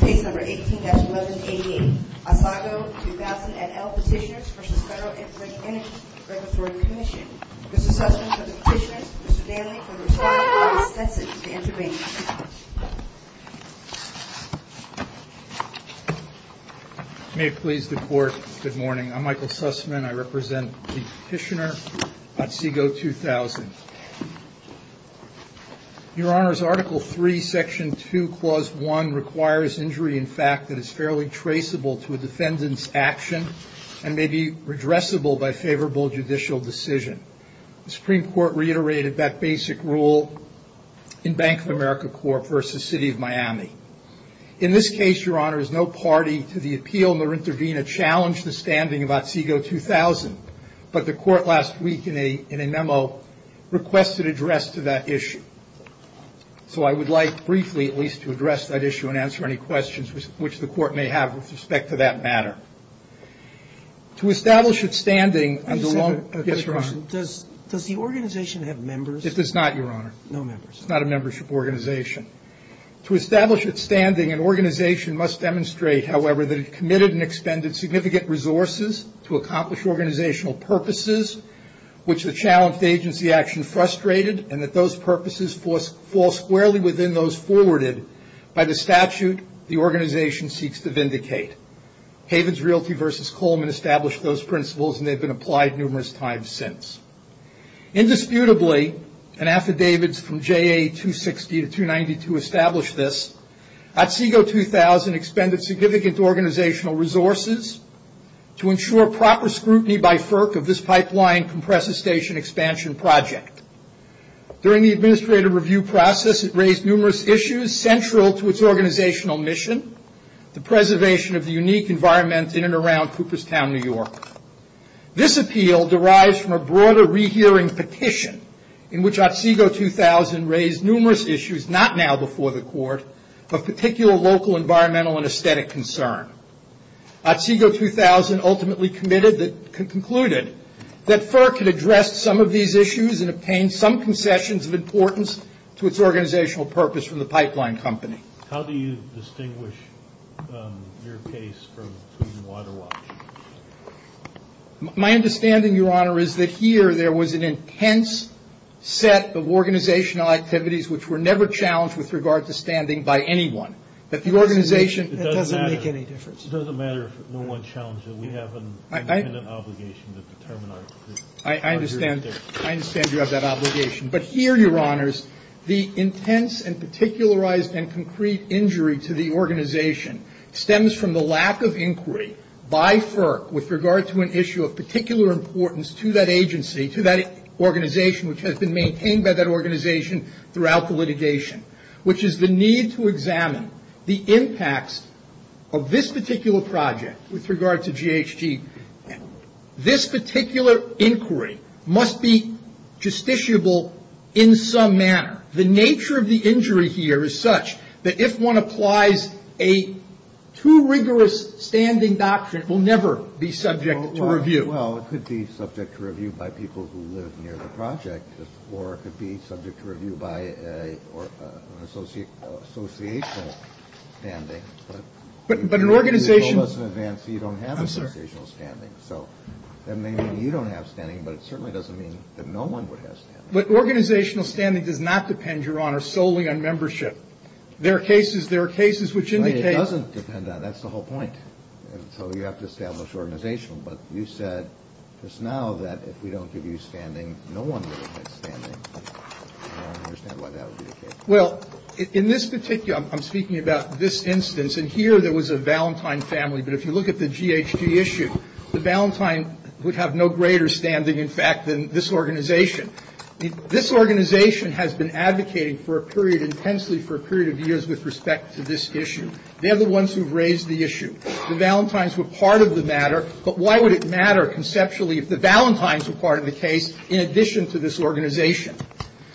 Case number 18-1188, Otsego 2000 et al. Petitioners v. Federal Energy Regulatory Commission Mr. Sussman for the petitioners, Mr. Danley for the respondent, and Mr. Stetson for the intervention May it please the court, good morning, I'm Michael Sussman, I represent the petitioner, Otsego 2000 Your honors, Article 3, Section 2, Clause 1 requires injury in fact that is fairly traceable to a defendant's action and may be redressable by favorable judicial decision. The Supreme Court reiterated that basic rule in Bank of America Corp. v. City of Miami. In this case, your honors, no party to the appeal nor intervene to challenge the standing of Otsego 2000, but the court last week in a memo requested address to that issue. So I would like briefly at least to address that issue and answer any questions which the court may have with respect to that matter. To establish its standing under long- I just have a quick question. Yes, your honor. Does the organization have members? It does not, your honor. No members. It's not a membership organization. To establish its standing, an organization must demonstrate, however, that it committed and expended significant resources to accomplish organizational purposes which the challenged agency action frustrated and that those purposes fall squarely within those forwarded by the statute the organization seeks to vindicate. Havens Realty v. Coleman established those principles and they've been applied numerous times since. Indisputably, and affidavits from JA 260 to 292 establish this, Otsego 2000 expended significant organizational resources to ensure proper scrutiny by FERC of this pipeline compressor station expansion project. During the administrative review process, it raised numerous issues central to its organizational mission, the preservation of the unique environment in and around Cooperstown, New York. This appeal derives from a broader rehearing petition in which Otsego 2000 raised numerous issues, not now before the court, but particular local environmental and aesthetic concern. Otsego 2000 ultimately concluded that FERC had addressed some of these issues and obtained some concessions of importance to its organizational purpose from the pipeline company. How do you distinguish your case from Pruden-Waterwatch? My understanding, Your Honor, is that here there was an intense set of organizational activities which were never challenged with regard to standing by anyone. That the organization doesn't make any difference. It doesn't matter if no one challenged it. We have an independent obligation to determine our case. I understand. I understand you have that obligation. But here, Your Honors, the intense and particularized and concrete injury to the organization stems from the lack of inquiry by FERC with regard to an issue of particular importance to that agency, to that organization which has been maintained by that organization throughout the litigation, which is the need to examine the impacts of this particular project with regard to GHG. This particular inquiry must be justiciable in some manner. The nature of the injury here is such that if one applies a too rigorous standing doctrine, it will never be subject to review. Well, it could be subject to review by people who live near the project, or it could be subject to review by an associational standing. But an organization... But organizational standing does not depend, Your Honor, solely on membership. There are cases, there are cases which indicate... It doesn't depend on it. That's the whole point. So you have to establish organizational. But you said just now that if we don't give you standing, no one will admit standing. I don't understand why that would be the case. Well, in this particular, I'm speaking about this instance. And here there was a Valentine family. But if you look at the GHG issue, the Valentine would have no greater standing, in fact, than this organization. This organization has been advocating for a period, intensely for a period of years, with respect to this issue. They're the ones who've raised the issue. The Valentines were part of the matter, but why would it matter conceptually if the Valentines were part of the case in addition to this organization?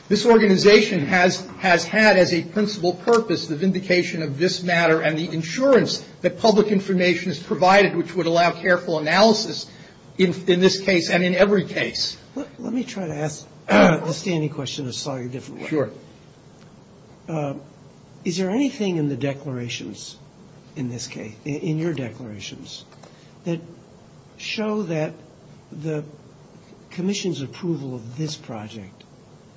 This organization has had as a principal purpose the vindication of this matter and the insurance that public information is provided, which would allow careful analysis in this case and in every case. Let me try to ask a standing question a slightly different way. Sure. Is there anything in the declarations in this case, in your declarations, that show that the commission's approval of this project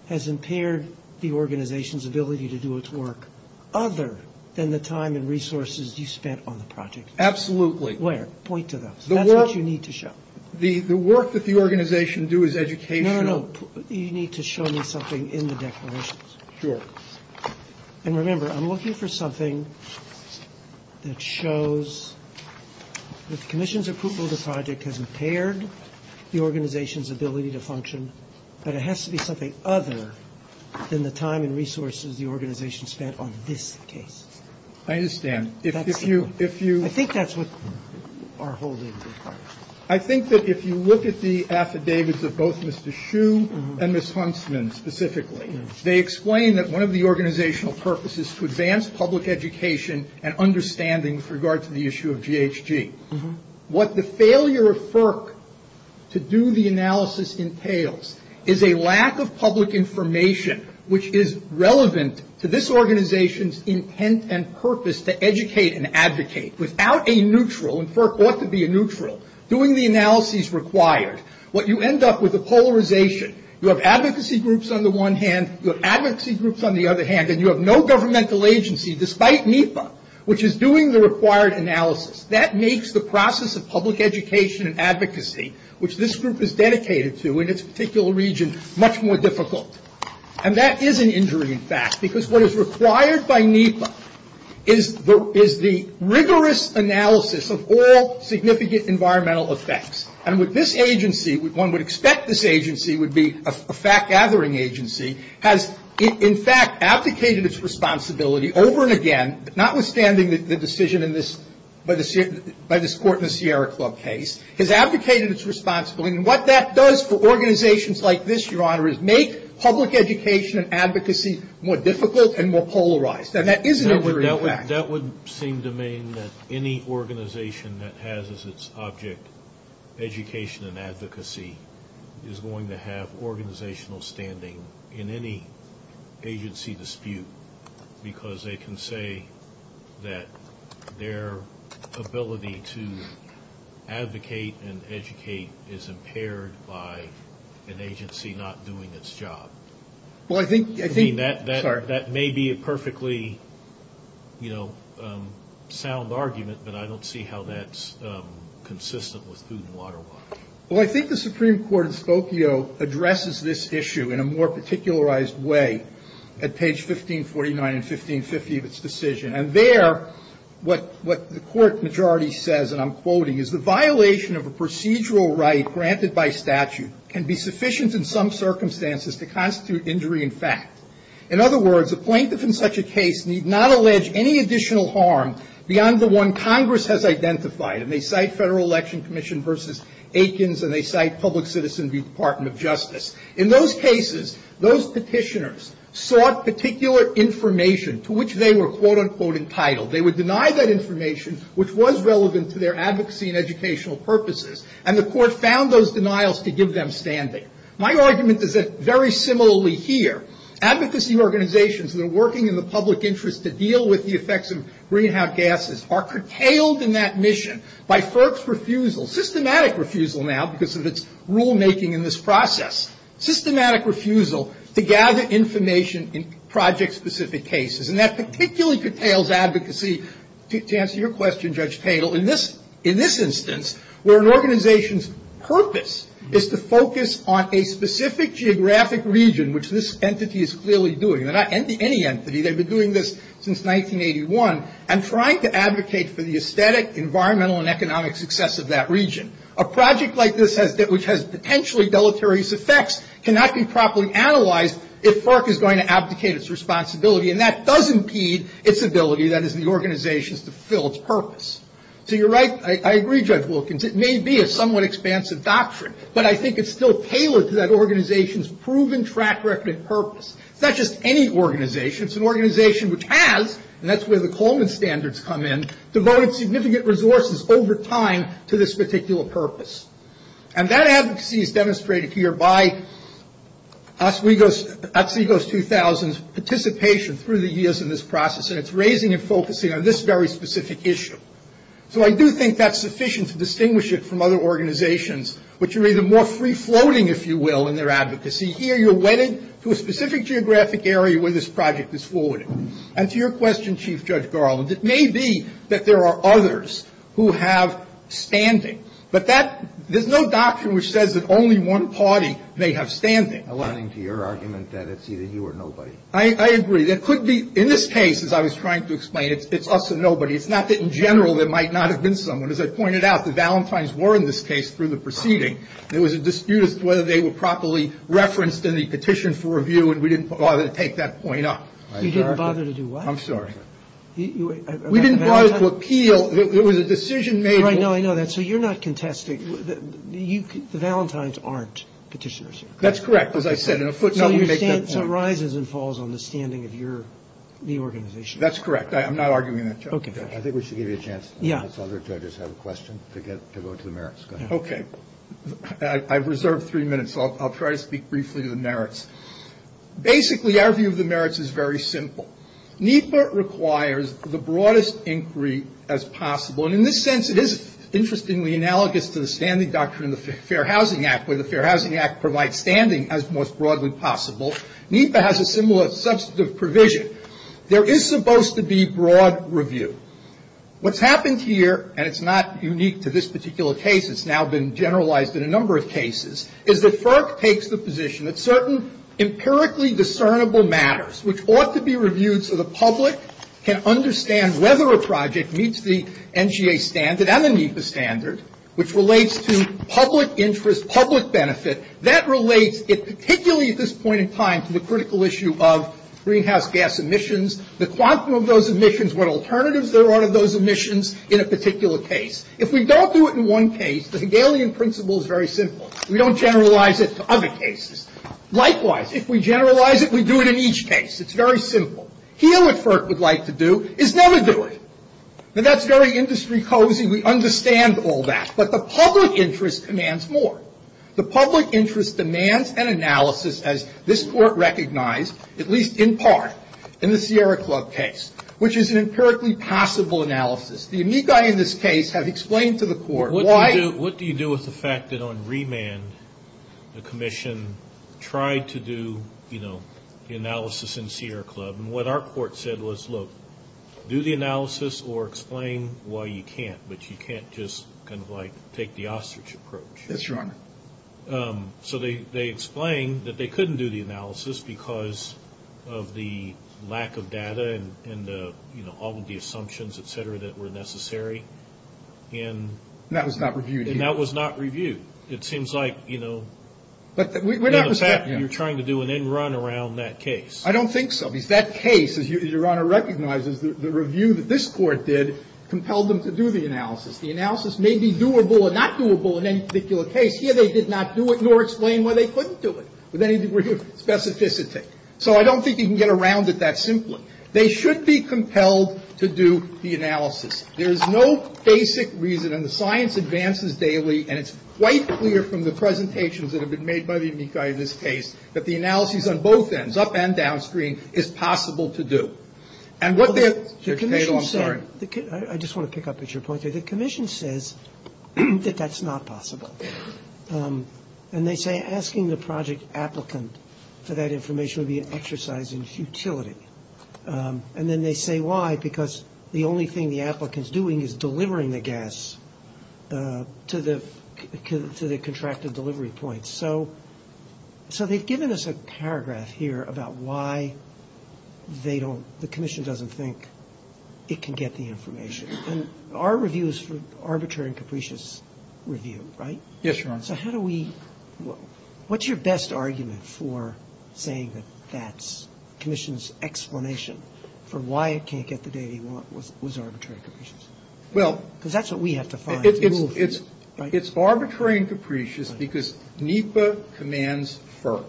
has impaired the organization's ability to do its work, other than the time and resources you spent on the project? Absolutely. Where? Point to those. That's what you need to show. The work that the organization do is educational. No, no, no. You need to show me something in the declarations. Sure. And remember, I'm looking for something that shows that the commission's approval of the project has impaired the organization's ability to function, but it has to be something other than the time and resources the organization spent on this case. I understand. I think that's what our holdings are. I think that if you look at the affidavits of both Mr. Hsu and Ms. Huntsman specifically, they explain that one of the organizational purposes to advance public education and understanding with regard to the issue of GHG. What the failure of FERC to do the analysis entails is a lack of public information, which is relevant to this organization's intent and purpose to educate and advocate. Without a neutral, and FERC ought to be a neutral, doing the analysis required, what you end up with is a polarization. You have advocacy groups on the one hand, you have advocacy groups on the other hand, and you have no governmental agency, despite NEPA, which is doing the required analysis. That makes the process of public education and advocacy, which this group is dedicated to in its particular region, much more difficult. And that is an injury, in fact, because what is required by NEPA is the rigorous analysis of all significant environmental effects. And with this agency, one would expect this agency would be a fact-gathering agency, has, in fact, abdicated its responsibility over and again, notwithstanding the decision by this Court in the Sierra Club case, has abdicated its responsibility. And what that does for organizations like this, Your Honor, is make public education and advocacy more difficult and more polarized. And that is an injury, in fact. That would seem to mean that any organization that has as its object education and advocacy is going to have organizational standing in any agency dispute, because they can say that their ability to advocate and educate is impaired by an agency not doing its job. I mean, that may be a perfectly, you know, sound argument, but I don't see how that's consistent with food and water law. Well, I think the Supreme Court in Spokio addresses this issue in a more particularized way at page 1549 and 1550 of its decision. And there, what the Court majority says, and I'm quoting, is the violation of a procedural right granted by statute can be sufficient in some circumstances to constitute injury in fact. In other words, a plaintiff in such a case need not allege any additional harm beyond the one Congress has identified, and they cite Federal Election Commission v. Aikens, and they cite Public Citizen v. Department of Justice. In those cases, those petitioners sought particular information to which they were, quote, unquote, entitled. They would deny that information, which was relevant to their advocacy and educational purposes, and the Court found those denials to give them standing. My argument is that very similarly here, advocacy organizations that are working in the public interest to deal with the effects of greenhouse gases are curtailed in that mission by FERC's refusal, systematic refusal now because of its rulemaking in this process, systematic refusal to gather information in project-specific cases. And that particularly curtails advocacy, to answer your question, Judge Tatel, in this instance where an organization's purpose is to focus on a specific geographic region, which this entity is clearly doing. They're not any entity. They've been doing this since 1981, and trying to advocate for the aesthetic, environmental, and economic success of that region. A project like this, which has potentially deleterious effects, cannot be properly analyzed if FERC is going to abdicate its responsibility, and that does impede its ability, that is, the organization's, to fulfill its purpose. So you're right. I agree, Judge Wilkins. It may be a somewhat expansive doctrine, but I think it's still tailored to that organization's proven track record and purpose. It's not just any organization. It's an organization which has, and that's where the Coleman Standards come in, devoted significant resources over time to this particular purpose. And that advocacy is demonstrated here by Oswego's 2000's participation through the years in this process, and it's raising and focusing on this very specific issue. So I do think that's sufficient to distinguish it from other organizations, which are either more free-floating, if you will, in their advocacy. Here, you're wedded to a specific geographic area where this project is forwarded. And to your question, Chief Judge Garland, it may be that there are others who have standing. But that, there's no doctrine which says that only one party may have standing. I'm running to your argument that it's either you or nobody. I agree. There could be, in this case, as I was trying to explain, it's us or nobody. It's not that in general there might not have been someone. As I pointed out, the Valentines were in this case through the proceeding. There was a dispute as to whether they were properly referenced in the petition for review, and we didn't bother to take that point up. You didn't bother to do what? I'm sorry. We didn't bother to appeal. It was a decision made. I know. I know that. So you're not contesting. The Valentines aren't petitioners. That's correct. As I said, in a footnote, we make that point. So it rises and falls on the standing of your reorganization. That's correct. I'm not arguing that, Judge. Okay. I think we should give you a chance, as other judges have a question, to go to the merits. Go ahead. Okay. I've reserved three minutes. I'll try to speak briefly to the merits. Basically, our view of the merits is very simple. NEPA requires the broadest inquiry as possible. And in this sense, it is interestingly analogous to the standing doctrine in the Fair Housing Act, where the Fair Housing Act provides standing as most broadly possible. NEPA has a similar substantive provision. There is supposed to be broad review. What's happened here, and it's not unique to this particular case, it's now been generalized in a number of cases, is that FERC takes the position that certain empirically discernible matters, which ought to be reviewed so the public can understand whether a project meets the NGA standard and the NEPA standard, which relates to public interest, public benefit, that relates particularly at this point in time to the critical issue of greenhouse gas emissions, the quantum of those emissions, what alternatives there are to those emissions in a particular case. If we don't do it in one case, the Hegelian principle is very simple. We don't generalize it to other cases. Likewise, if we generalize it, we do it in each case. It's very simple. Here what FERC would like to do is never do it. Now, that's very industry cozy. We understand all that. But the public interest demands more. And so the question is, what do we do with the fact that, on remand, the commission tried to do, you know, the analysis in Sierra Club, and what our court said was, look, do the analysis or explain why you can't, but you can't just kind of like take the ostrich approach. Yes, Your Honor. I mean, I'm not saying that we couldn't do the analysis because of the lack of data and, you know, all of the assumptions, et cetera, that were necessary. And that was not reviewed. And that was not reviewed. It seems like, you know, you're trying to do an end run around that case. I don't think so. Because that case, as Your Honor recognizes, the review that this Court did compelled them to do the analysis. The analysis may be doable or not doable in any particular case. Here, they did not do it nor explain why they couldn't do it with any degree of specificity. So I don't think you can get around it that simply. They should be compelled to do the analysis. There is no basic reason. And the science advances daily, and it's quite clear from the presentations that have been made by the amici of this case that the analysis on both ends, up and downstream, is possible to do. And what their title, I'm sorry. I just want to pick up at your point there. The Commission says that that's not possible. And they say asking the project applicant for that information would be an exercise in futility. And then they say why, because the only thing the applicant is doing is delivering the gas to the contracted delivery point. So they've given us a paragraph here about why they don't, the Commission doesn't think it can get the information. And our review is for arbitrary and capricious review, right? Yes, Your Honor. So how do we, what's your best argument for saying that that's, the Commission's explanation for why it can't get the data you want was arbitrary and capricious? Well. Because that's what we have to find. It's arbitrary and capricious because NEPA commands FERC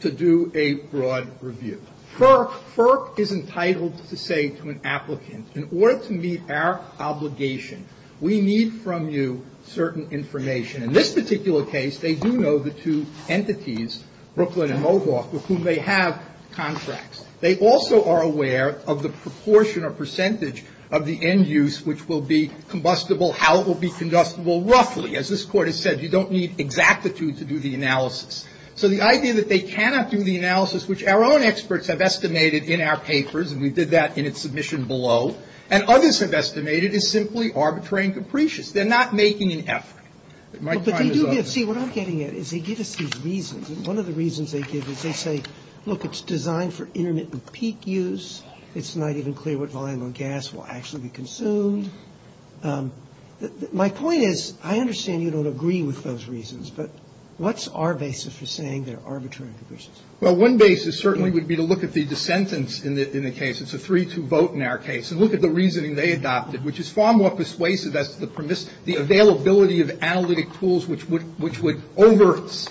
to do a broad review. FERC is entitled to say to an applicant, in order to meet our obligation, we need from you certain information. In this particular case, they do know the two entities, Brooklyn and Mohawk, with whom they have contracts. They also are aware of the proportion or percentage of the end use which will be combustible, how it will be combustible, roughly. As this Court has said, you don't need exactitude to do the analysis. So the idea that they cannot do the analysis, which our own experts have estimated in our papers, and we did that in its submission below, and others have estimated is simply arbitrary and capricious. They're not making an effort. My time is up. But they do give, see, what I'm getting at is they give us these reasons. And one of the reasons they give is they say, look, it's designed for intermittent peak use. It's not even clear what volume of gas will actually be consumed. My point is, I understand you don't agree with those reasons, but what's our basis for saying they're arbitrary and capricious? Well, one basis certainly would be to look at the dissentants in the case. It's a 3-2 vote in our case. And look at the reasoning they adopted, which is far more persuasive as to the availability of analytic tools which would overt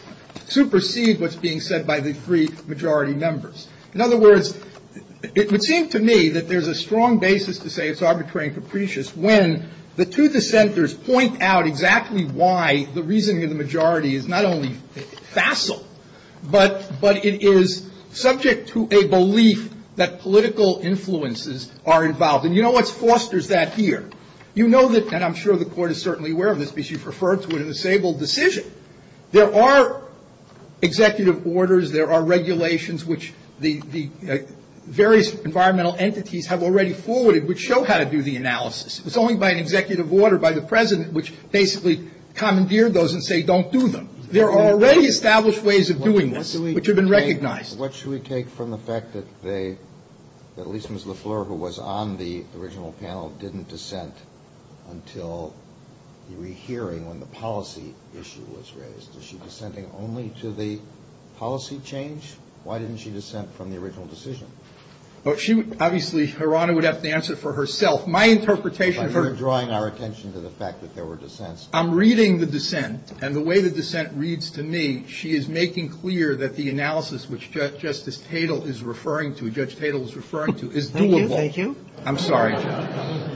supersede what's being said by the three majority members. In other words, it would seem to me that there's a strong basis to say it's arbitrary and capricious when the two dissenters point out exactly why the reasoning of the majority is not only facile, but it is subject to a belief that political influences are involved. And you know what fosters that here? You know that, and I'm sure the Court is certainly aware of this because you've referred to it in the Sable decision. There are executive orders. There are regulations which the various environmental entities have already forwarded which show how to do the analysis. It was only by an executive order by the President which basically commandeered those and say don't do them. There are already established ways of doing this which have been recognized. What should we take from the fact that they, that Lisa Ms. Lafleur, who was on the original panel, didn't dissent until the rehearing when the policy issue was raised? Is she dissenting only to the policy change? Why didn't she dissent from the original decision? Well, she obviously, Your Honor, would have to answer for herself. My interpretation of her ---- But you're drawing our attention to the fact that there were dissents. I'm reading the dissent, and the way the dissent reads to me, she is making clear that the analysis which Justice Tatel is referring to, Judge Tatel is referring to, is doable. Thank you. Thank you. I'm sorry, Judge.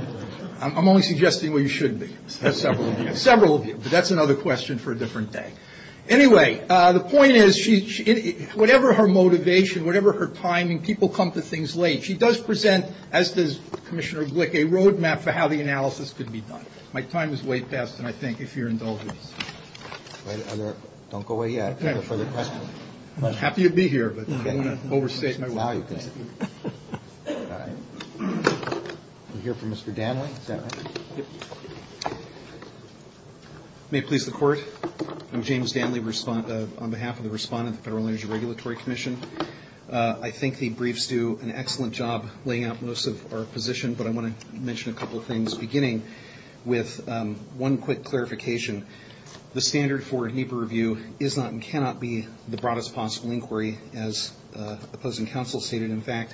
I'm only suggesting where you should be. Several of you. Several of you. But that's another question for a different day. Anyway, the point is, she, whatever her motivation, whatever her timing, people come to things late. She does present, as does Commissioner Glick, a roadmap for how the analysis could be done. My time is way past, and I thank you for your indulgence. Don't go away yet. I have a further question. I'm happy to be here, but I don't want to overstay my welcome. We'll hear from Mr. Danley. Is that right? May it please the Court, I'm James Danley, on behalf of the respondent of the Federal Energy Regulatory Commission. I think the briefs do an excellent job laying out most of our position, but I want to mention a couple of things, beginning with one quick clarification. The standard for NEPA review is not and cannot be the broadest possible inquiry, as the opposing counsel stated. In fact,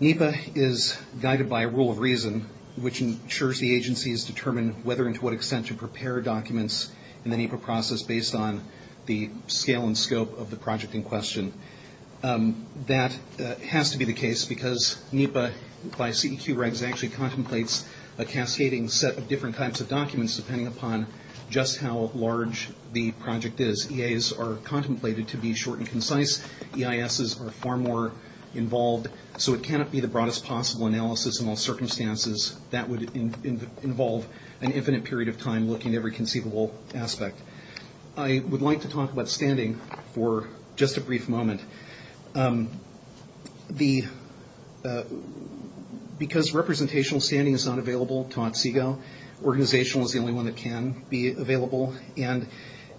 NEPA is guided by a rule of reason, which ensures the agencies determine whether and to what extent to prepare documents in the NEPA process based on the scale and scope of the project in question. That has to be the case because NEPA, by CEQ regs, actually contemplates a cascading set of different types of documents depending upon just how large the project is. EAs are contemplated to be short and concise. EISs are far more involved. So it cannot be the broadest possible analysis in all circumstances. That would involve an infinite period of time looking at every conceivable aspect. I would like to talk about standing for just a brief moment. Because representational standing is not available to Otsego, organizational is the only one that can be available, and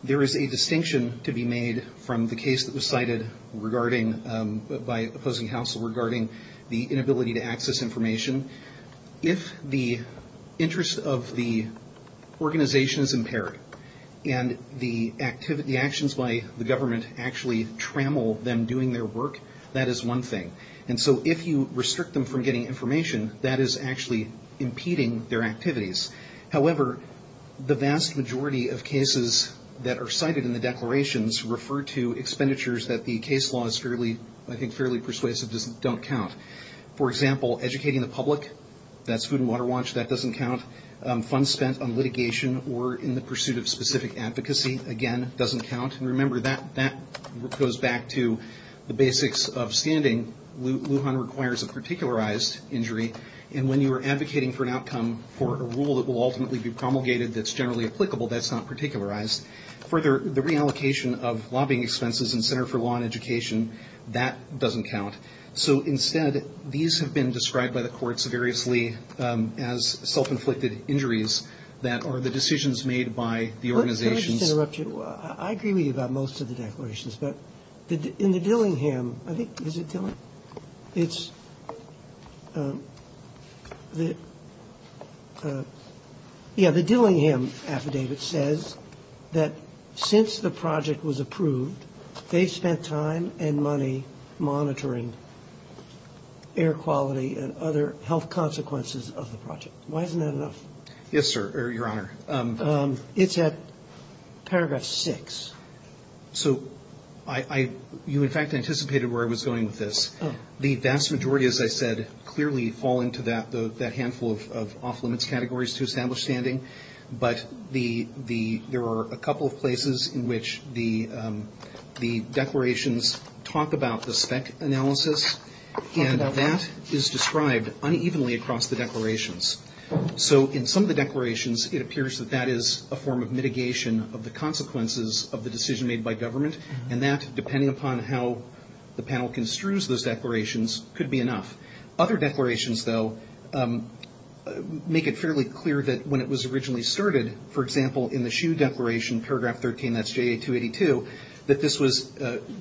there is a distinction to be made from the case that was cited by opposing counsel regarding the inability to If the interest of the organization is impaired and the actions by the government actually trammel them doing their work, that is one thing. And so if you restrict them from getting information, that is actually impeding their activities. However, the vast majority of cases that are cited in the declarations refer to expenditures that the case law is fairly persuasive don't count. For example, educating the public, that's food and water watch, that doesn't count. Funds spent on litigation or in the pursuit of specific advocacy, again, doesn't count. And remember, that goes back to the basics of standing. Lujan requires a particularized injury. And when you are advocating for an outcome for a rule that will ultimately be promulgated that's generally applicable, that's not particularized. Further, the reallocation of lobbying expenses in Center for Law and Education, that doesn't count. So instead, these have been described by the courts variously as self-inflicted injuries that are the decisions made by the organizations. Let me just interrupt you. I agree with you about most of the declarations. But in the Dillingham, I think, is it Dillingham? It's the, yeah, the Dillingham affidavit says that since the project was approved, they spent time and money monitoring air quality and other health consequences of the project. Why isn't that enough? Yes, sir, your honor. It's at paragraph six. So you, in fact, anticipated where I was going with this. The vast majority, as I said, clearly fall into that handful of off-limits categories to establish standing. But there are a couple of places in which the declarations talk about the spec analysis, and that is described unevenly across the declarations. So in some of the declarations, it appears that that is a form of mitigation of the consequences of the decision made by government. And that, depending upon how the panel construes those declarations, could be enough. Other declarations, though, make it fairly clear that when it was originally started, for example, in the SHU declaration, paragraph 13, that's JA 282, that this was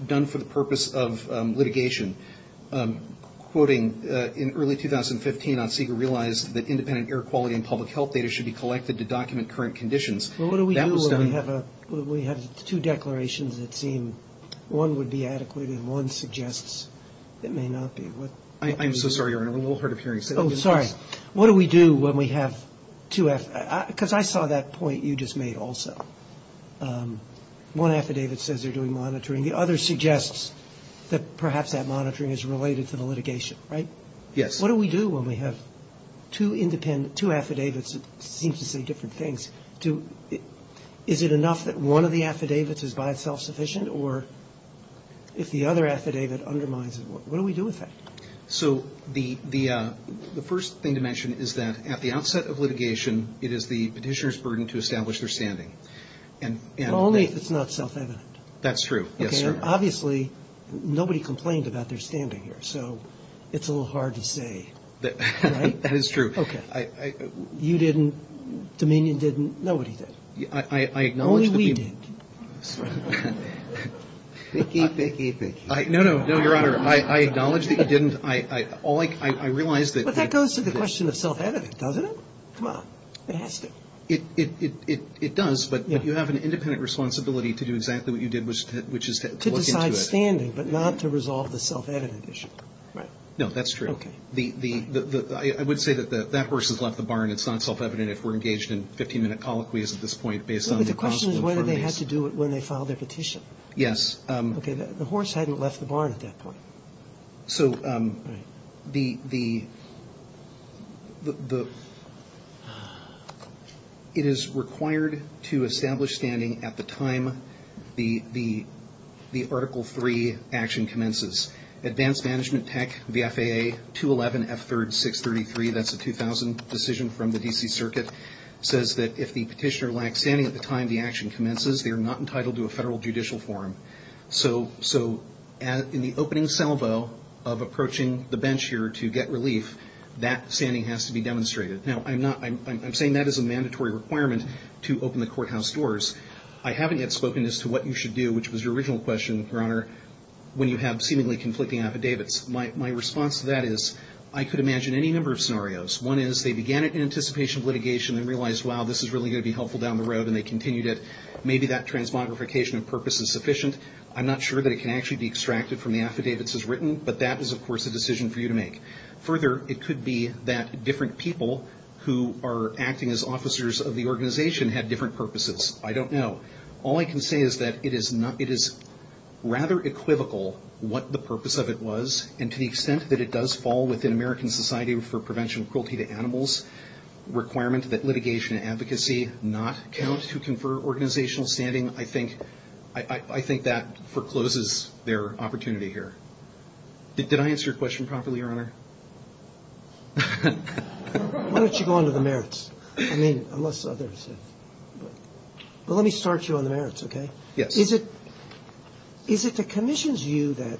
done for the purpose of litigation. Quoting, in early 2015, Otseger realized that independent air quality and public health data should be collected to document current conditions. Well, what do we do when we have two declarations that seem one would be adequate and one suggests it may not be? I'm so sorry, Your Honor. A little hard of hearing. Oh, sorry. What do we do when we have two? Because I saw that point you just made also. One affidavit says they're doing monitoring. The other suggests that perhaps that monitoring is related to the litigation, right? Yes. What do we do when we have two affidavits that seem to say different things? Is it enough that one of the affidavits is by itself sufficient? Or if the other affidavit undermines it, what do we do with that? So the first thing to mention is that at the outset of litigation, it is the petitioner's burden to establish their standing. Only if it's not self-evident. That's true. Yes, sir. Obviously, nobody complained about their standing here, so it's a little hard to say, right? That is true. Okay. You didn't. Dominion didn't. Nobody did. Only we did. Sorry. Picky, picky, picky. No, no. No, Your Honor. I acknowledge that you didn't. I realize that. But that goes to the question of self-evident, doesn't it? Come on. It has to. It does, but you have an independent responsibility to do exactly what you did, which is to look into it. To decide standing, but not to resolve the self-evident issue. Right. No, that's true. Okay. I would say that that horse has left the barn. It's not self-evident if we're engaged in 15-minute colloquies at this point based on the possible information. But the question is whether they had to do it when they filed their petition. Yes. Okay. The horse hadn't left the barn at that point. So the ‑‑ it is required to establish standing at the time the Article III action commences. Advanced Management Tech, the FAA, 211F3RD633, that's a 2000 decision from the D.C. Circuit, says that if the petitioner lacks standing at the time the action commences, they are not entitled to a federal judicial forum. So in the opening salvo of approaching the bench here to get relief, that standing has to be demonstrated. Now, I'm saying that as a mandatory requirement to open the courthouse doors. I haven't yet spoken as to what you should do, which was your original question, Your Honor, when you have seemingly conflicting affidavits. My response to that is I could imagine any number of scenarios. One is they began it in anticipation of litigation and realized, wow, this is really going to be helpful down the road, and they continued it. Maybe that transmogrification of purpose is sufficient. I'm not sure that it can actually be extracted from the affidavits as written, but that is, of course, a decision for you to make. Further, it could be that different people who are acting as officers of the organization had different purposes. I don't know. All I can say is that it is rather equivocal what the purpose of it was, and to the extent that it does fall within American society for prevention of cruelty to animals, requirement that litigation and advocacy not count to confer organizational standing, I think that forecloses their opportunity here. Did I answer your question properly, Your Honor? Why don't you go on to the merits? I mean, unless others have. But let me start you on the merits, okay? Yes. Is it the commission's view that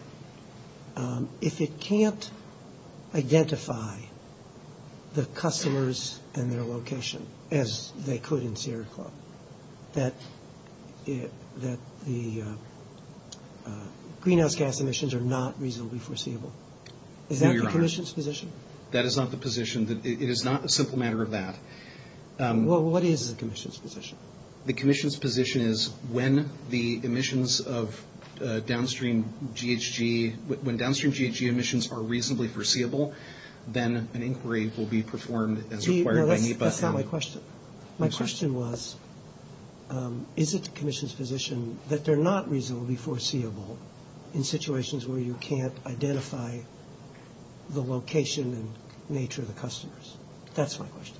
if it can't identify the customers and their location, as they could in Sierra Club, that the greenhouse gas emissions are not reasonably foreseeable? No, Your Honor. Is that the commission's position? That is not the position. It is not a simple matter of that. Well, what is the commission's position? The commission's position is when the emissions of downstream GHG, when downstream GHG emissions are reasonably foreseeable, then an inquiry will be performed as required by NEPA. That's not my question. My question was, is it the commission's position that they're not reasonably foreseeable in situations where you can't identify the location and nature of the customers? That's my question.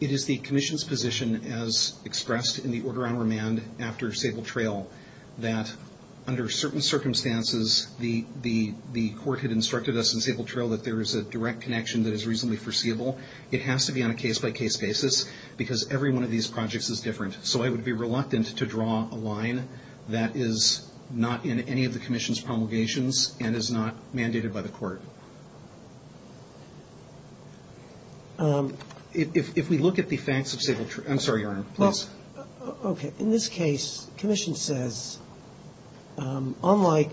It is the commission's position, as expressed in the order on remand after Sable Trail, that under certain circumstances, the court had instructed us in Sable Trail that there is a direct connection that is reasonably foreseeable. It has to be on a case-by-case basis because every one of these projects is different. So I would be reluctant to draw a line that is not in any of the commission's promulgations and is not mandated by the court. If we look at the facts of Sable Trail – I'm sorry, Your Honor, please. Okay. In this case, the commission says, unlike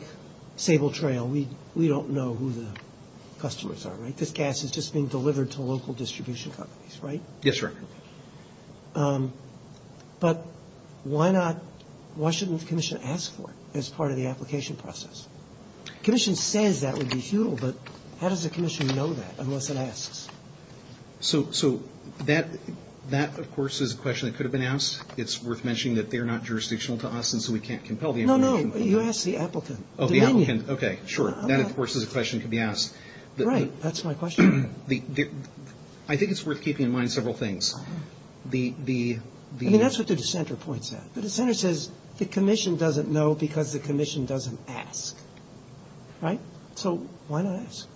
Sable Trail, we don't know who the customers are, right? This gas is just being delivered to local distribution companies, right? Yes, Your Honor. But why not – why shouldn't the commission ask for it as part of the application process? The commission says that would be futile, but how does the commission know that unless it asks? So that, of course, is a question that could have been asked. It's worth mentioning that they are not jurisdictional to us, and so we can't compel the application. No, no. You asked the applicant. Oh, the applicant. Okay, sure. That, of course, is a question that could be asked. Right. That's my question. I think it's worth keeping in mind several things. I mean, that's what the dissenter points at. The dissenter says the commission doesn't know because the commission doesn't ask, right? So why not ask?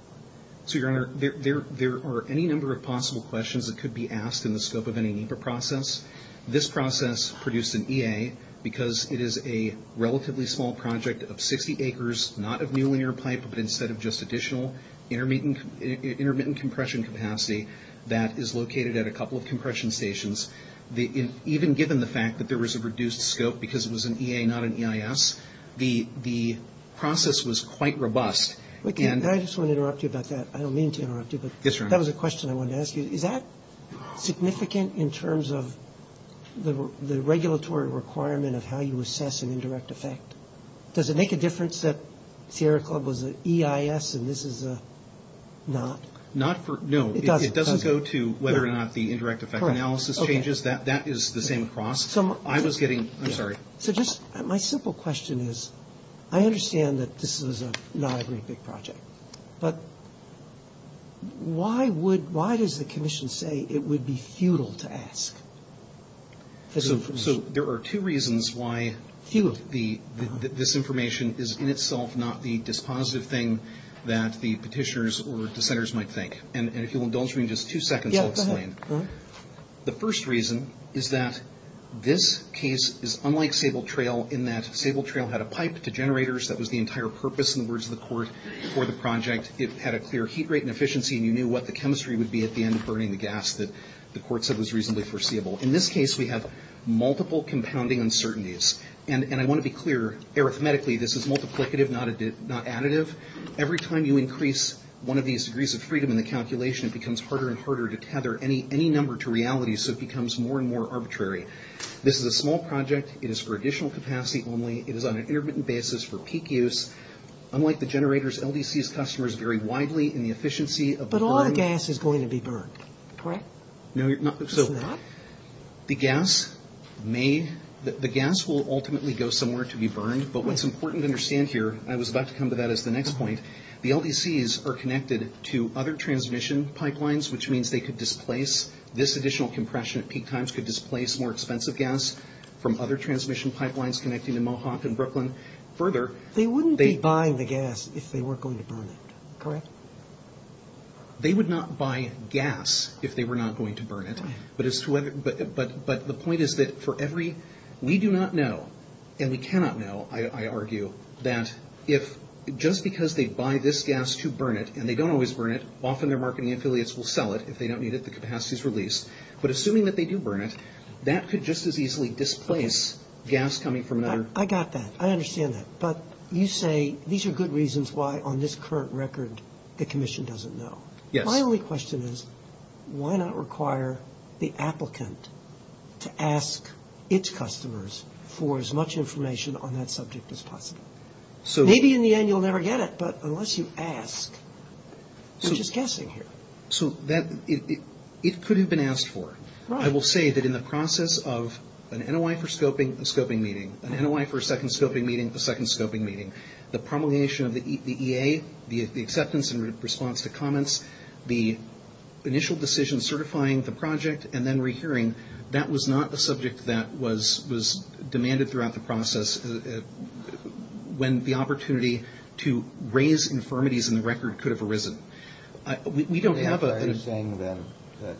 So, Your Honor, there are any number of possible questions that could be asked in the scope of any NEPA process. This process produced an EA because it is a relatively small project of 60 acres, not of new linear pipe, but instead of just additional intermittent compression capacity that is located at a couple of compression stations. Even given the fact that there was a reduced scope because it was an EA, not an EIS, the process was quite robust. I just want to interrupt you about that. I don't mean to interrupt you, but that was a question I wanted to ask you. Is that significant in terms of the regulatory requirement of how you assess an indirect effect? Does it make a difference that Sierra Club was an EIS and this is a not? No, it doesn't go to whether or not the indirect effect analysis changes. That is the same process. I'm sorry. So just my simple question is I understand that this is not a great big project, but why does the commission say it would be futile to ask? So there are two reasons why this information is in itself not the dispositive thing that the petitioners or dissenters might think, and if you'll indulge me in just two seconds, I'll explain. The first reason is that this case is unlike Sable Trail in that Sable Trail had a pipe to generators. That was the entire purpose in the words of the court for the project. It had a clear heat rate and efficiency, and you knew what the chemistry would be at the end of burning the gas that the court said was reasonably foreseeable. In this case, we have multiple compounding uncertainties, and I want to be clear. Arithmetically, this is multiplicative, not additive. Every time you increase one of these degrees of freedom in the calculation, it becomes harder and harder to tether any number to reality, so it becomes more and more arbitrary. This is a small project. It is for additional capacity only. It is on an intermittent basis for peak use. Unlike the generators, LDC's customers vary widely in the efficiency of the burn. But all the gas is going to be burned, correct? No, so the gas will ultimately go somewhere to be burned, but what's important to understand here, and I was about to come to that as the next point, the LDC's are connected to other transmission pipelines, which means they could displace. This additional compression at peak times could displace more expensive gas from other transmission pipelines connecting to Mohawk and Brooklyn. They wouldn't be buying the gas if they weren't going to burn it, correct? They would not buy gas if they were not going to burn it. But the point is that for every—we do not know, and we cannot know, I argue, that if just because they buy this gas to burn it, and they don't always burn it, often their marketing affiliates will sell it if they don't need it, the capacity is released. But assuming that they do burn it, that could just as easily displace gas coming from another— I got that. I understand that. But you say these are good reasons why on this current record the Commission doesn't know. Yes. My only question is why not require the applicant to ask its customers for as much information on that subject as possible? Maybe in the end you'll never get it, but unless you ask, you're just guessing here. It could have been asked for. I will say that in the process of an NOI for scoping, a scoping meeting, an NOI for a second scoping meeting, a second scoping meeting, the promulgation of the EA, the acceptance and response to comments, the initial decision certifying the project, and then rehearing, that was not a subject that was demanded throughout the process when the opportunity to raise infirmities in the record could have arisen. We don't have a— Are you saying then that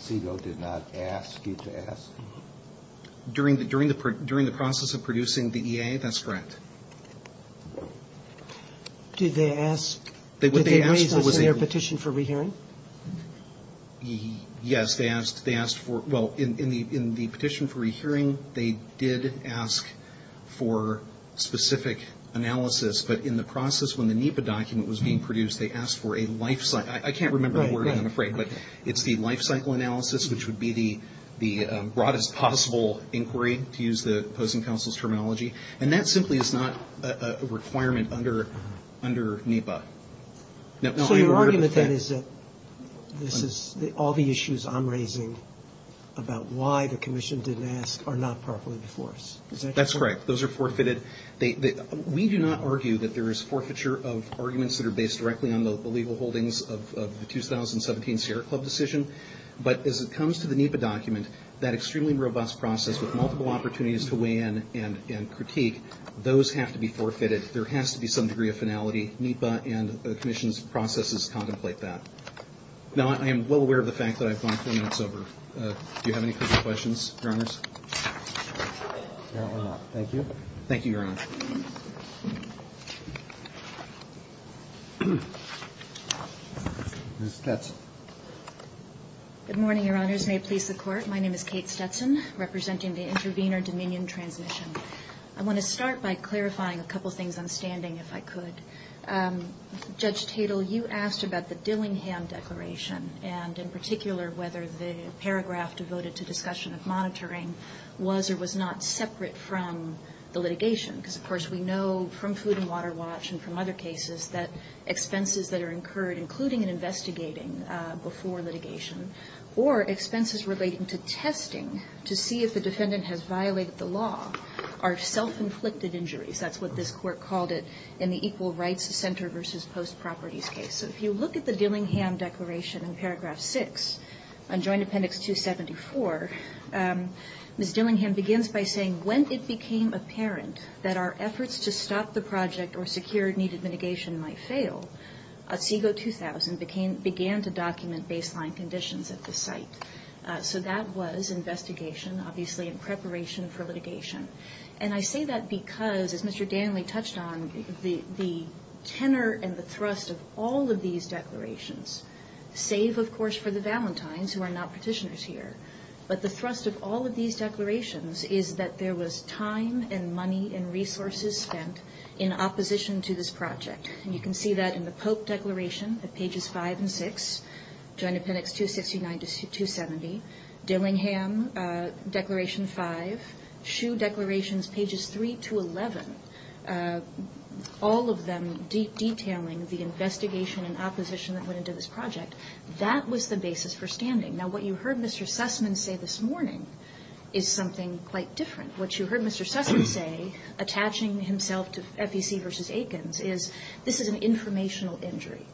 CIGO did not ask you to ask? During the process of producing the EA, that's correct. Did they ask— What they asked was— Did they raise us in their petition for rehearing? Yes. They asked for—well, in the petition for rehearing, they did ask for specific analysis, but in the process when the NEPA document was being produced, they asked for a lifecycle— I can't remember the wording, I'm afraid, but it's the lifecycle analysis, which would be the broadest possible inquiry, to use the opposing counsel's terminology, and that simply is not a requirement under NEPA. So your argument then is that all the issues I'm raising about why the commission didn't ask are not properly before us? That's correct. Those are forfeited. We do not argue that there is forfeiture of arguments that are based directly on the legal holdings of the 2017 Sierra Club decision, but as it comes to the NEPA document, that extremely robust process with multiple opportunities to weigh in and critique, those have to be forfeited. There has to be some degree of finality. NEPA and the commission's processes contemplate that. Now, I am well aware of the fact that I've gone 20 minutes over. Do you have any further questions, Your Honors? No, I'm out. Thank you. Thank you, Your Honor. Ms. Stetson. Good morning, Your Honors. May it please the Court. My name is Kate Stetson, representing the Intervenor Dominion Transmission. I want to start by clarifying a couple things on standing, if I could. Judge Tatel, you asked about the Dillingham Declaration and, in particular, whether the paragraph devoted to discussion of monitoring was or was not separate from the litigation, because, of course, we know from Food and Water Watch and from other cases that expenses that are incurred, including in investigating before litigation, or expenses relating to testing to see if the defendant has violated the law, are self-inflicted injuries. That's what this Court called it in the Equal Rights Center v. Post Properties case. So if you look at the Dillingham Declaration in paragraph 6 on Joint Appendix 274, Ms. Dillingham begins by saying, When it became apparent that our efforts to stop the project or secure needed mitigation might fail, CIGO 2000 began to document baseline conditions at the site. So that was investigation, obviously, in preparation for litigation. And I say that because, as Mr. Danley touched on, the tenor and the thrust of all of these declarations, save, of course, for the Valentines, who are not petitioners here, but the thrust of all of these declarations is that there was time and money and resources spent in opposition to this project. And you can see that in the Pope Declaration at pages 5 and 6, Joint Appendix 269 to 270, Dillingham Declaration 5, Schuh Declaration pages 3 to 11, all of them detailing the investigation and opposition that went into this project. That was the basis for standing. Now, what you heard Mr. Sussman say this morning is something quite different. What you heard Mr. Sussman say, attaching himself to FEC v. Aikens, is this is an informational injury.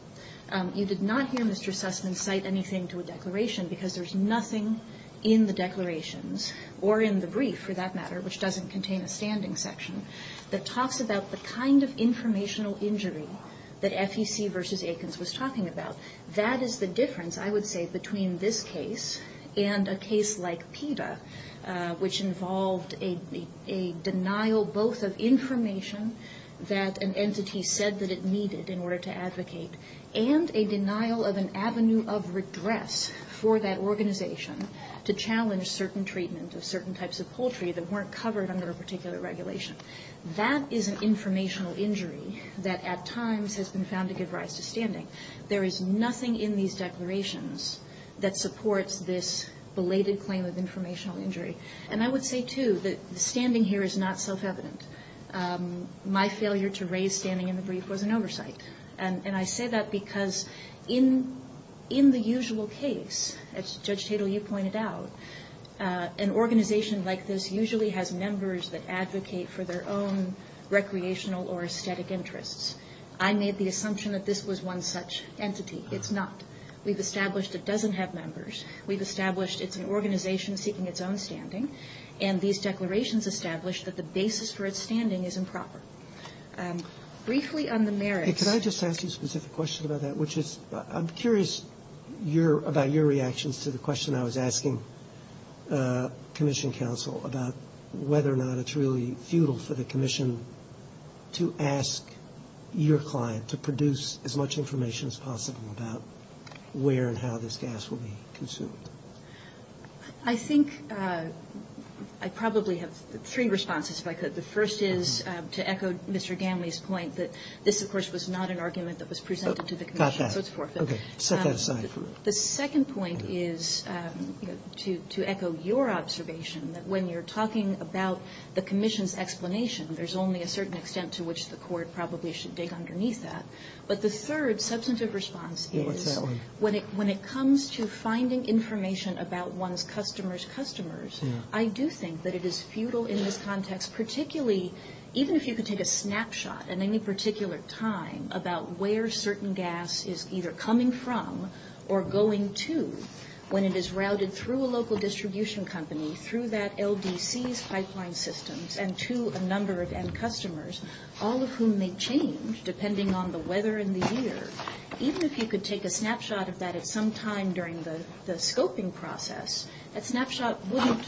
You did not hear Mr. Sussman cite anything to a declaration because there's nothing in the declarations, or in the brief, for that matter, which doesn't contain a standing section, that talks about the kind of informational injury that FEC v. Aikens was talking about. That is the difference, I would say, between this case and a case like PETA, which involved a denial both of information that an entity said that it needed in order to advocate, and a denial of an avenue of redress for that organization to challenge certain treatment of certain types of poultry that weren't covered under a particular regulation. That is an informational injury that at times has been found to give rise to standing. There is nothing in these declarations that supports this belated claim of informational injury. And I would say, too, that the standing here is not self-evident. My failure to raise standing in the brief was an oversight. And I say that because in the usual case, as Judge Tatel, you pointed out, an organization like this usually has members that advocate for their own recreational or aesthetic interests. I made the assumption that this was one such entity. It's not. We've established it doesn't have members. We've established it's an organization seeking its own standing. And these declarations establish that the basis for its standing is improper. Briefly on the merits. Can I just ask you a specific question about that, which is I'm curious about your reactions to the question I was asking Commission Counsel about whether or not it's really futile for the commission to ask your client to produce as much information as possible about where and how this gas will be consumed. I think I probably have three responses, if I could. The first is to echo Mr. Gamley's point that this, of course, was not an argument that was presented to the commission. So it's forfeit. Set that aside. The second point is to echo your observation that when you're talking about the commission's explanation, there's only a certain extent to which the court probably should dig underneath that. But the third substantive response is when it comes to finding information about one's customers' customers, I do think that it is futile in this context, even if you could take a snapshot at any particular time about where certain gas is either coming from or going to when it is routed through a local distribution company, through that LDC's pipeline systems, and to a number of end customers, all of whom may change depending on the weather in the year. Even if you could take a snapshot of that at some time during the scoping process, that snapshot wouldn't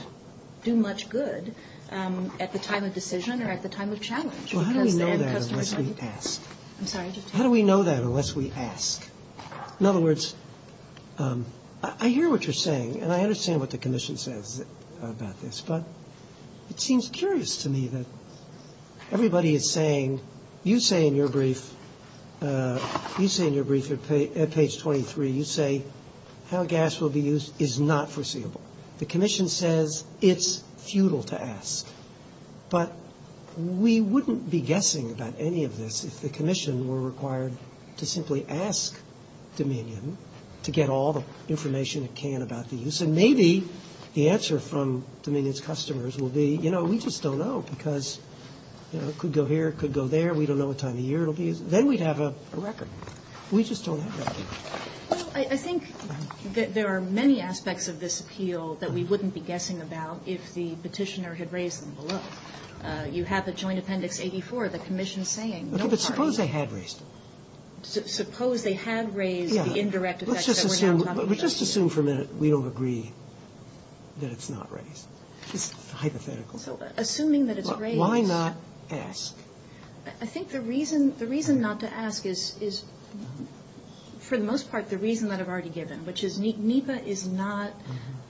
do much good at the time of decision or at the time of challenge. How do we know that unless we ask? I'm sorry. How do we know that unless we ask? In other words, I hear what you're saying, and I understand what the commission says about this, but it seems curious to me that everybody is saying, you say in your brief, you say in your brief at page 23, you say how gas will be used is not foreseeable. The commission says it's futile to ask. But we wouldn't be guessing about any of this if the commission were required to simply ask Dominion to get all the information it can about the use. And maybe the answer from Dominion's customers will be, you know, we just don't know because it could go here, it could go there. We don't know what time of year it will be. Then we'd have a record. We just don't have that. Well, I think there are many aspects of this appeal that we wouldn't be guessing about if the petitioner had raised them below. You have the joint appendix 84, the commission saying no parties. But suppose they had raised them. Suppose they had raised the indirect effects that we're now talking about. Let's just assume for a minute we don't agree that it's not raised. It's hypothetical. Assuming that it's raised. Why not ask? I think the reason not to ask is, for the most part, the reason that I've already given, which is NEPA is not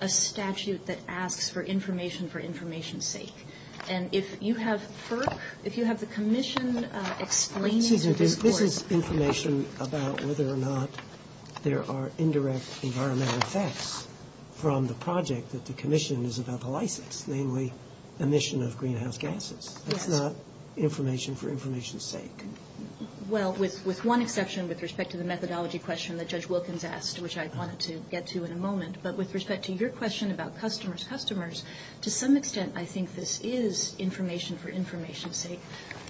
a statute that asks for information for information's sake. And if you have FERC, if you have the commission explaining to this court. Susan, this is information about whether or not there are indirect environmental effects from the project that the commission is about to license, namely emission of greenhouse gases. That's not information for information's sake. Well, with one exception with respect to the methodology question that Judge Wilkins asked, which I wanted to get to in a moment. But with respect to your question about customers' customers, to some extent I think this is information for information's sake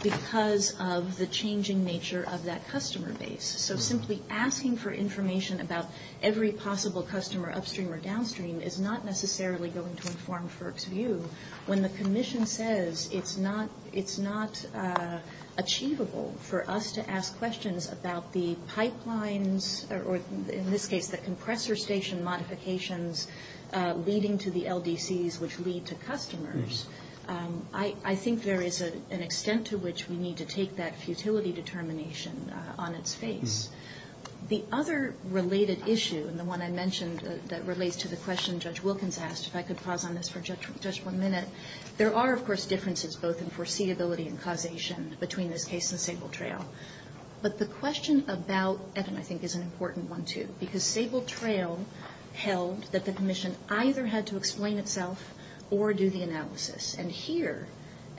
because of the changing nature of that customer base. So simply asking for information about every possible customer upstream or downstream is not necessarily going to inform FERC's view. When the commission says it's not achievable for us to ask questions about the pipelines or in this case the compressor station modifications leading to the LDCs which lead to customers, I think there is an extent to which we need to take that futility determination on its face. The other related issue, and the one I mentioned that relates to the question Judge Wilkins asked, if I could pause on this for just one minute, there are of course differences both in foreseeability and causation between this case and Sable Trail. But the question about it I think is an important one too because Sable Trail held that the commission either had to explain itself or do the analysis. And here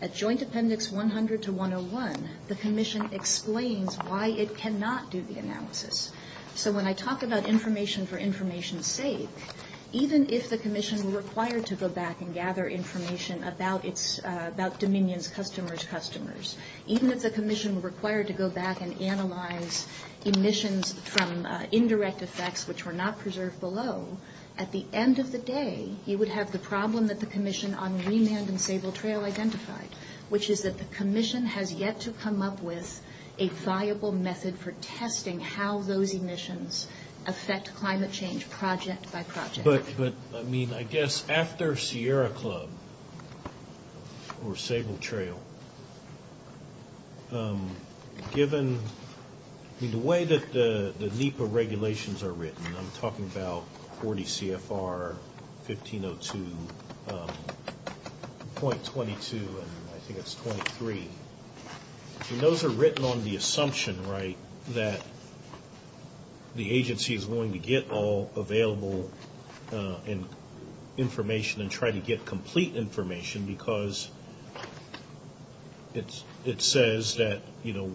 at Joint Appendix 100 to 101, the commission explains why it cannot do the analysis. So when I talk about information for information's sake, even if the commission were required to go back and gather information about Dominion's customers' customers, even if the commission were required to go back and analyze emissions from indirect effects which were not preserved below, at the end of the day you would have the problem that the commission on Remand and Sable Trail identified, which is that the commission has yet to come up with a viable method for testing how those emissions affect climate change project by project. But I mean I guess after Sierra Club or Sable Trail, given the way that the NEPA regulations are written, I'm talking about 40 CFR, 1502, 0.22, and I think it's 0.23. Those are written on the assumption, right, that the agency is willing to get all available information and try to get complete information because it says that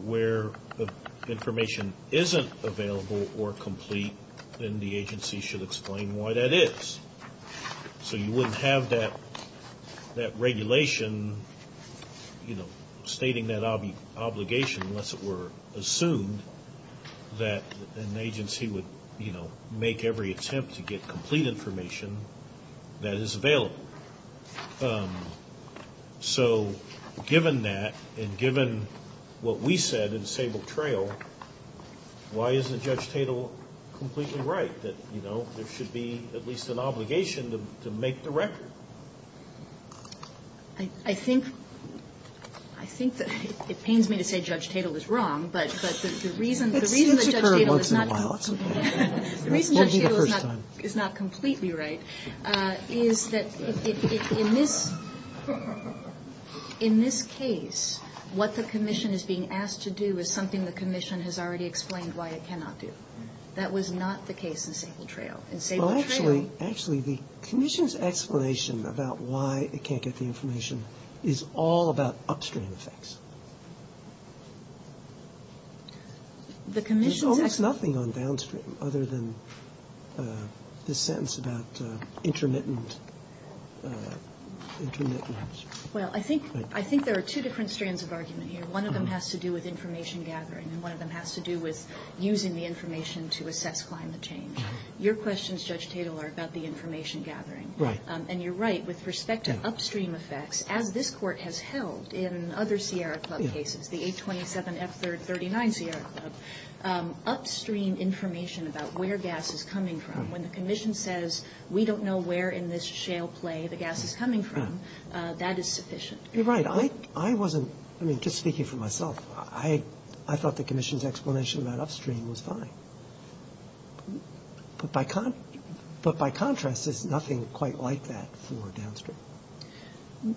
where the information isn't available or complete, then the agency should explain why that is. So you wouldn't have that regulation stating that obligation unless it were assumed that an agency would make every attempt to get complete information that is available. So given that and given what we said in Sable Trail, why isn't Judge Tatel completely right that, you know, there should be at least an obligation to make the record? I think that it pains me to say Judge Tatel is wrong, but the reason that Judge Tatel is not completely right is that in this case, what the commission is being asked to do is something the commission has already explained why it cannot do. That was not the case in Sable Trail. Well, actually, the commission's explanation about why it can't get the information is all about upstream effects. There's almost nothing on downstream other than this sentence about intermittent upstream. Well, I think there are two different strands of argument here. One of them has to do with information gathering, and one of them has to do with using the information to assess climate change. Your questions, Judge Tatel, are about the information gathering. And you're right. With respect to upstream effects, as this Court has held in other Sierra Club cases, the 827F39 Sierra Club, upstream information about where gas is coming from, when the commission says we don't know where in this shale play the gas is coming from, that is sufficient. You're right. I wasn't — I mean, just speaking for myself, I thought the commission's explanation about upstream was fine. But by contrast, there's nothing quite like that for downstream.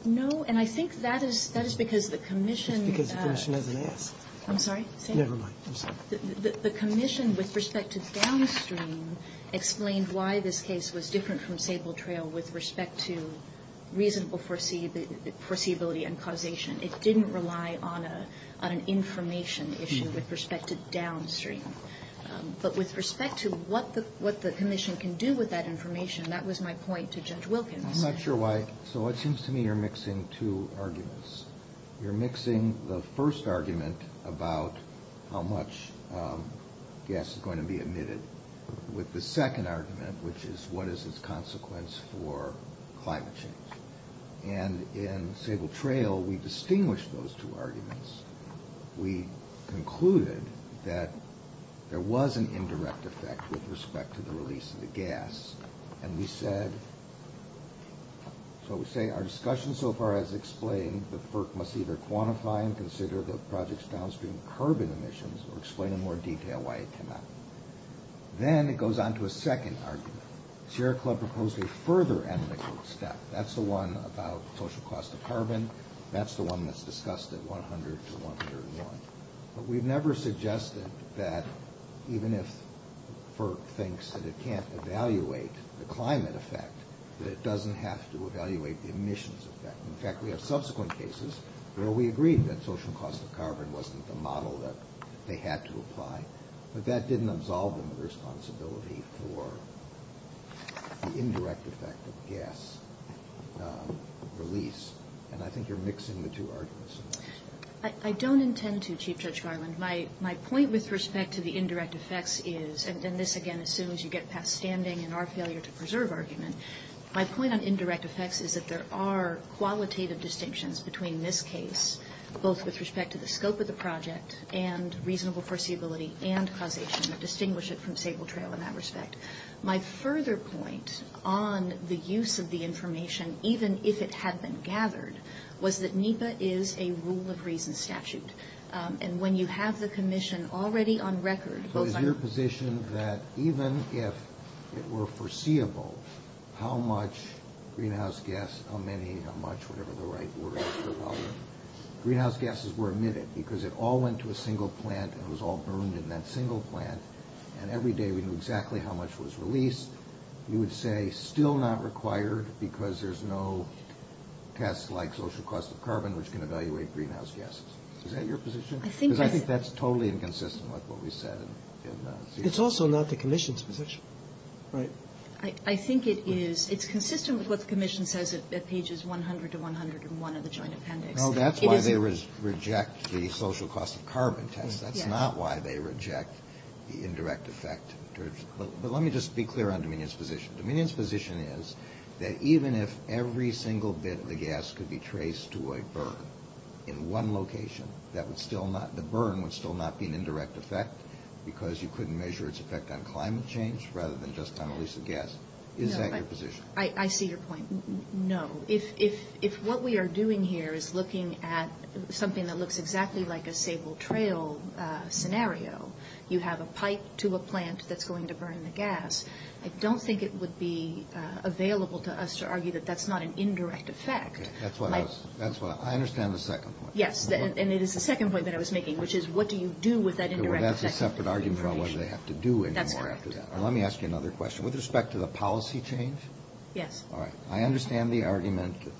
No, and I think that is because the commission — It's because the commission doesn't ask. I'm sorry? Never mind. I'm sorry. The commission, with respect to downstream, explained why this case was different from sable trail with respect to reasonable foreseeability and causation. It didn't rely on an information issue with respect to downstream. But with respect to what the commission can do with that information, that was my point to Judge Wilkins. I'm not sure why. So it seems to me you're mixing two arguments. You're mixing the first argument about how much gas is going to be emitted with the second argument, which is what is its consequence for climate change. And in sable trail, we distinguished those two arguments. We concluded that there was an indirect effect with respect to the release of the gas. And we said — so we say our discussion so far has explained that FERC must either quantify and consider the project's downstream carbon emissions or explain in more detail why it cannot. Then it goes on to a second argument. Sierra Club proposed a further ethical step. That's the one about social cost of carbon. That's the one that's discussed at 100 to 101. But we've never suggested that even if FERC thinks that it can't evaluate the climate effect, that it doesn't have to evaluate the emissions effect. In fact, we have subsequent cases where we agreed that social cost of carbon wasn't the model that they had to apply. But that didn't absolve them of responsibility for the indirect effect of gas release. And I think you're mixing the two arguments. I don't intend to, Chief Judge Garland. My point with respect to the indirect effects is — and this, again, assumes you get past standing in our failure to preserve argument. My point on indirect effects is that there are qualitative distinctions between this case, both with respect to the scope of the project and reasonable foreseeability and causation that distinguish it from sable trail in that respect. My further point on the use of the information, even if it had been gathered, was that NEPA is a rule-of-reason statute. And when you have the commission already on record — So is your position that even if it were foreseeable how much greenhouse gas — how many, how much, whatever the right word is for volume — greenhouse gases were emitted because it all went to a single plant and it was all burned in that single plant, and every day we knew exactly how much was released, you would say still not required because there's no test like social cost of carbon which can evaluate greenhouse gases. Is that your position? Because I think that's totally inconsistent with what we said in — It's also not the commission's position. Right. I think it is. It's consistent with what the commission says at pages 100 to 101 of the joint appendix. No, that's why they reject the social cost of carbon test. That's not why they reject the indirect effect. But let me just be clear on Dominion's position. Dominion's position is that even if every single bit of the gas could be traced to a burn in one location, that would still not — the burn would still not be an indirect effect because you couldn't measure its effect on climate change rather than just on the release of gas. Is that your position? I see your point. No. If what we are doing here is looking at something that looks exactly like a sable trail scenario, you have a pipe to a plant that's going to burn the gas, I don't think it would be available to us to argue that that's not an indirect effect. That's what I understand the second point. Yes. And it is the second point that I was making, which is what do you do with that indirect effect? That's a separate argument about what they have to do anymore after that. That's correct. Let me ask you another question. With respect to the policy change? Yes. All right. I understand the argument that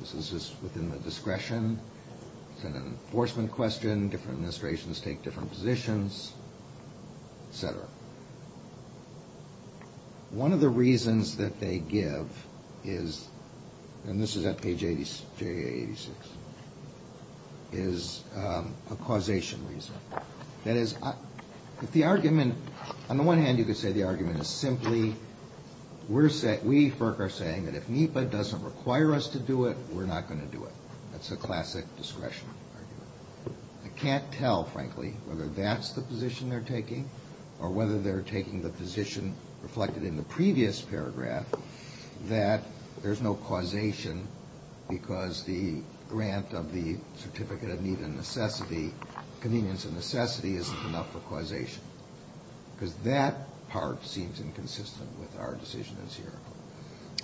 this is within the discretion, it's an enforcement question, different administrations take different positions, et cetera. One of the reasons that they give is — and this is at page 86 — is a causation reason. That is, if the argument — on the one hand, you could say the argument is simply we, FERC, are saying that if NEPA doesn't require us to do it, we're not going to do it. That's a classic discretion argument. I can't tell, frankly, whether that's the position they're taking or whether they're taking the position reflected in the previous paragraph that there's no causation because the grant of the Certificate of Need and Necessity, Convenience and Necessity, isn't enough for causation. Because that part seems inconsistent with our decision as here.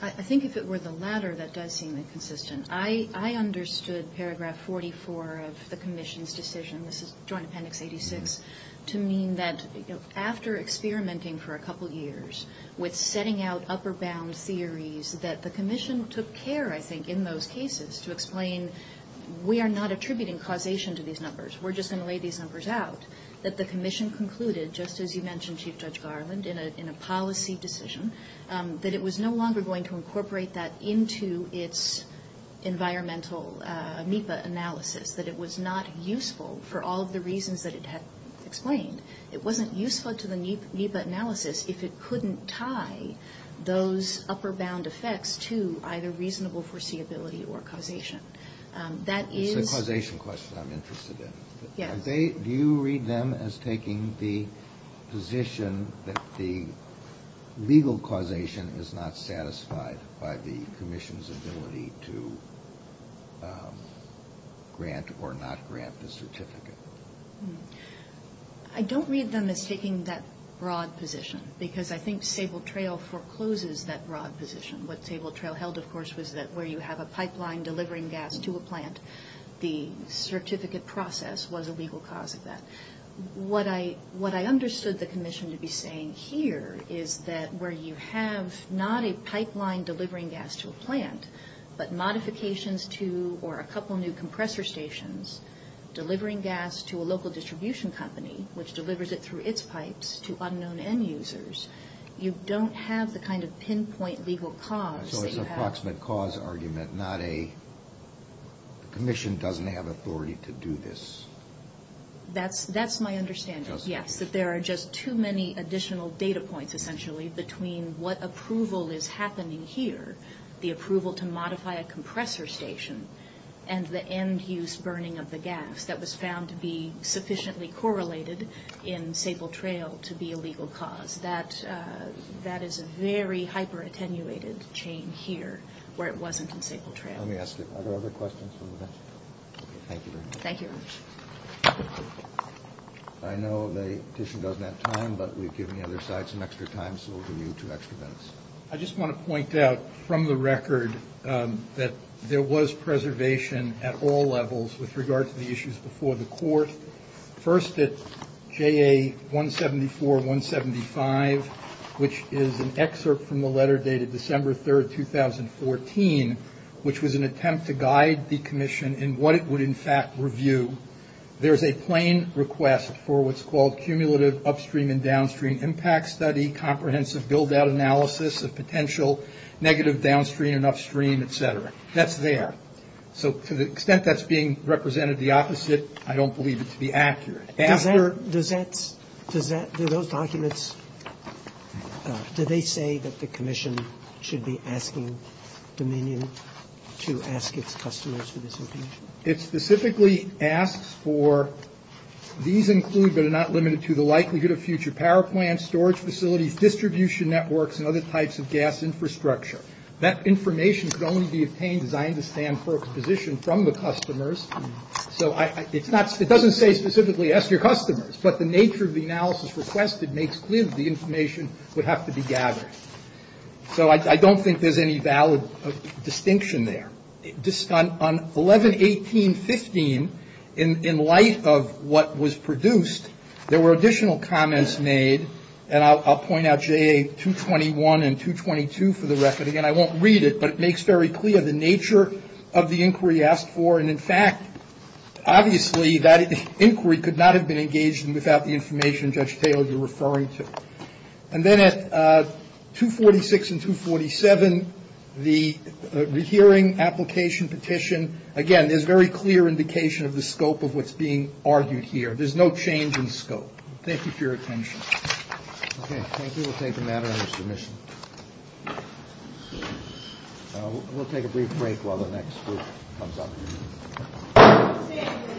I think if it were the latter, that does seem inconsistent. I understood paragraph 44 of the commission's decision — this is Joint Appendix 86 — to mean that after experimenting for a couple years with setting out upper-bound theories, that the commission took care, I think, in those cases to explain we are not attributing causation to these numbers, we're just going to lay these numbers out, that the commission concluded, just as you mentioned, Chief Judge Garland, in a policy decision, that it was no longer going to incorporate that into its environmental NEPA analysis, that it was not useful for all of the reasons that it had explained. It wasn't useful to the NEPA analysis if it couldn't tie those upper-bound effects to either reasonable foreseeability or causation. That is — It's the causation question I'm interested in. Yes. Do you read them as taking the position that the legal causation is not satisfied by the commission's ability to grant or not grant the certificate? I don't read them as taking that broad position, because I think Sable Trail forecloses that broad position. What Sable Trail held, of course, was that where you have a pipeline delivering gas to a plant, the certificate process was a legal cause of that. What I understood the commission to be saying here is that where you have not a pipeline delivering gas to a plant, but modifications to or a couple new compressor stations delivering gas to a local distribution company, which delivers it through its pipes to unknown end users, you don't have the kind of pinpoint legal cause that you have — The commission doesn't have authority to do this. That's my understanding, yes, that there are just too many additional data points, essentially, between what approval is happening here, the approval to modify a compressor station, and the end-use burning of the gas that was found to be sufficiently correlated in Sable Trail to be a legal cause. That is a very hyper-attenuated chain here where it wasn't in Sable Trail. Let me ask if there are other questions from the bench. Thank you very much. Thank you. I know the petition doesn't have time, but we've given the other side some extra time, so we'll give you two extra minutes. I just want to point out from the record that there was preservation at all levels with regard to the issues before the court. First at JA 174-175, which is an excerpt from the letter dated December 3, 2014, which was an attempt to guide the commission in what it would, in fact, review. There's a plain request for what's called cumulative upstream and downstream impact study, comprehensive build-out analysis of potential negative downstream and upstream, et cetera. That's there. So to the extent that's being represented the opposite, I don't believe it to be accurate. Does that, do those documents, do they say that the commission should be asking Dominion to ask its customers for this information? It specifically asks for, these include but are not limited to, the likelihood of future power plants, storage facilities, distribution networks, and other types of gas infrastructure. That information could only be obtained, as I understand, for exposition from the customers. So it's not, it doesn't say specifically ask your customers, but the nature of the analysis requested makes clear that the information would have to be gathered. So I don't think there's any valid distinction there. On 11-18-15, in light of what was produced, there were additional comments made, and I'll point out JA-221 and 222 for the record. Again, I won't read it, but it makes very clear the nature of the inquiry asked for. And, in fact, obviously that inquiry could not have been engaged without the information Judge Taylor, you're referring to. And then at 246 and 247, the hearing application petition, again, there's very clear indication of the scope of what's being argued here. There's no change in scope. Thank you for your attention. Okay. Thank you. We'll take a matter under submission. We'll take a brief break while the next group comes up.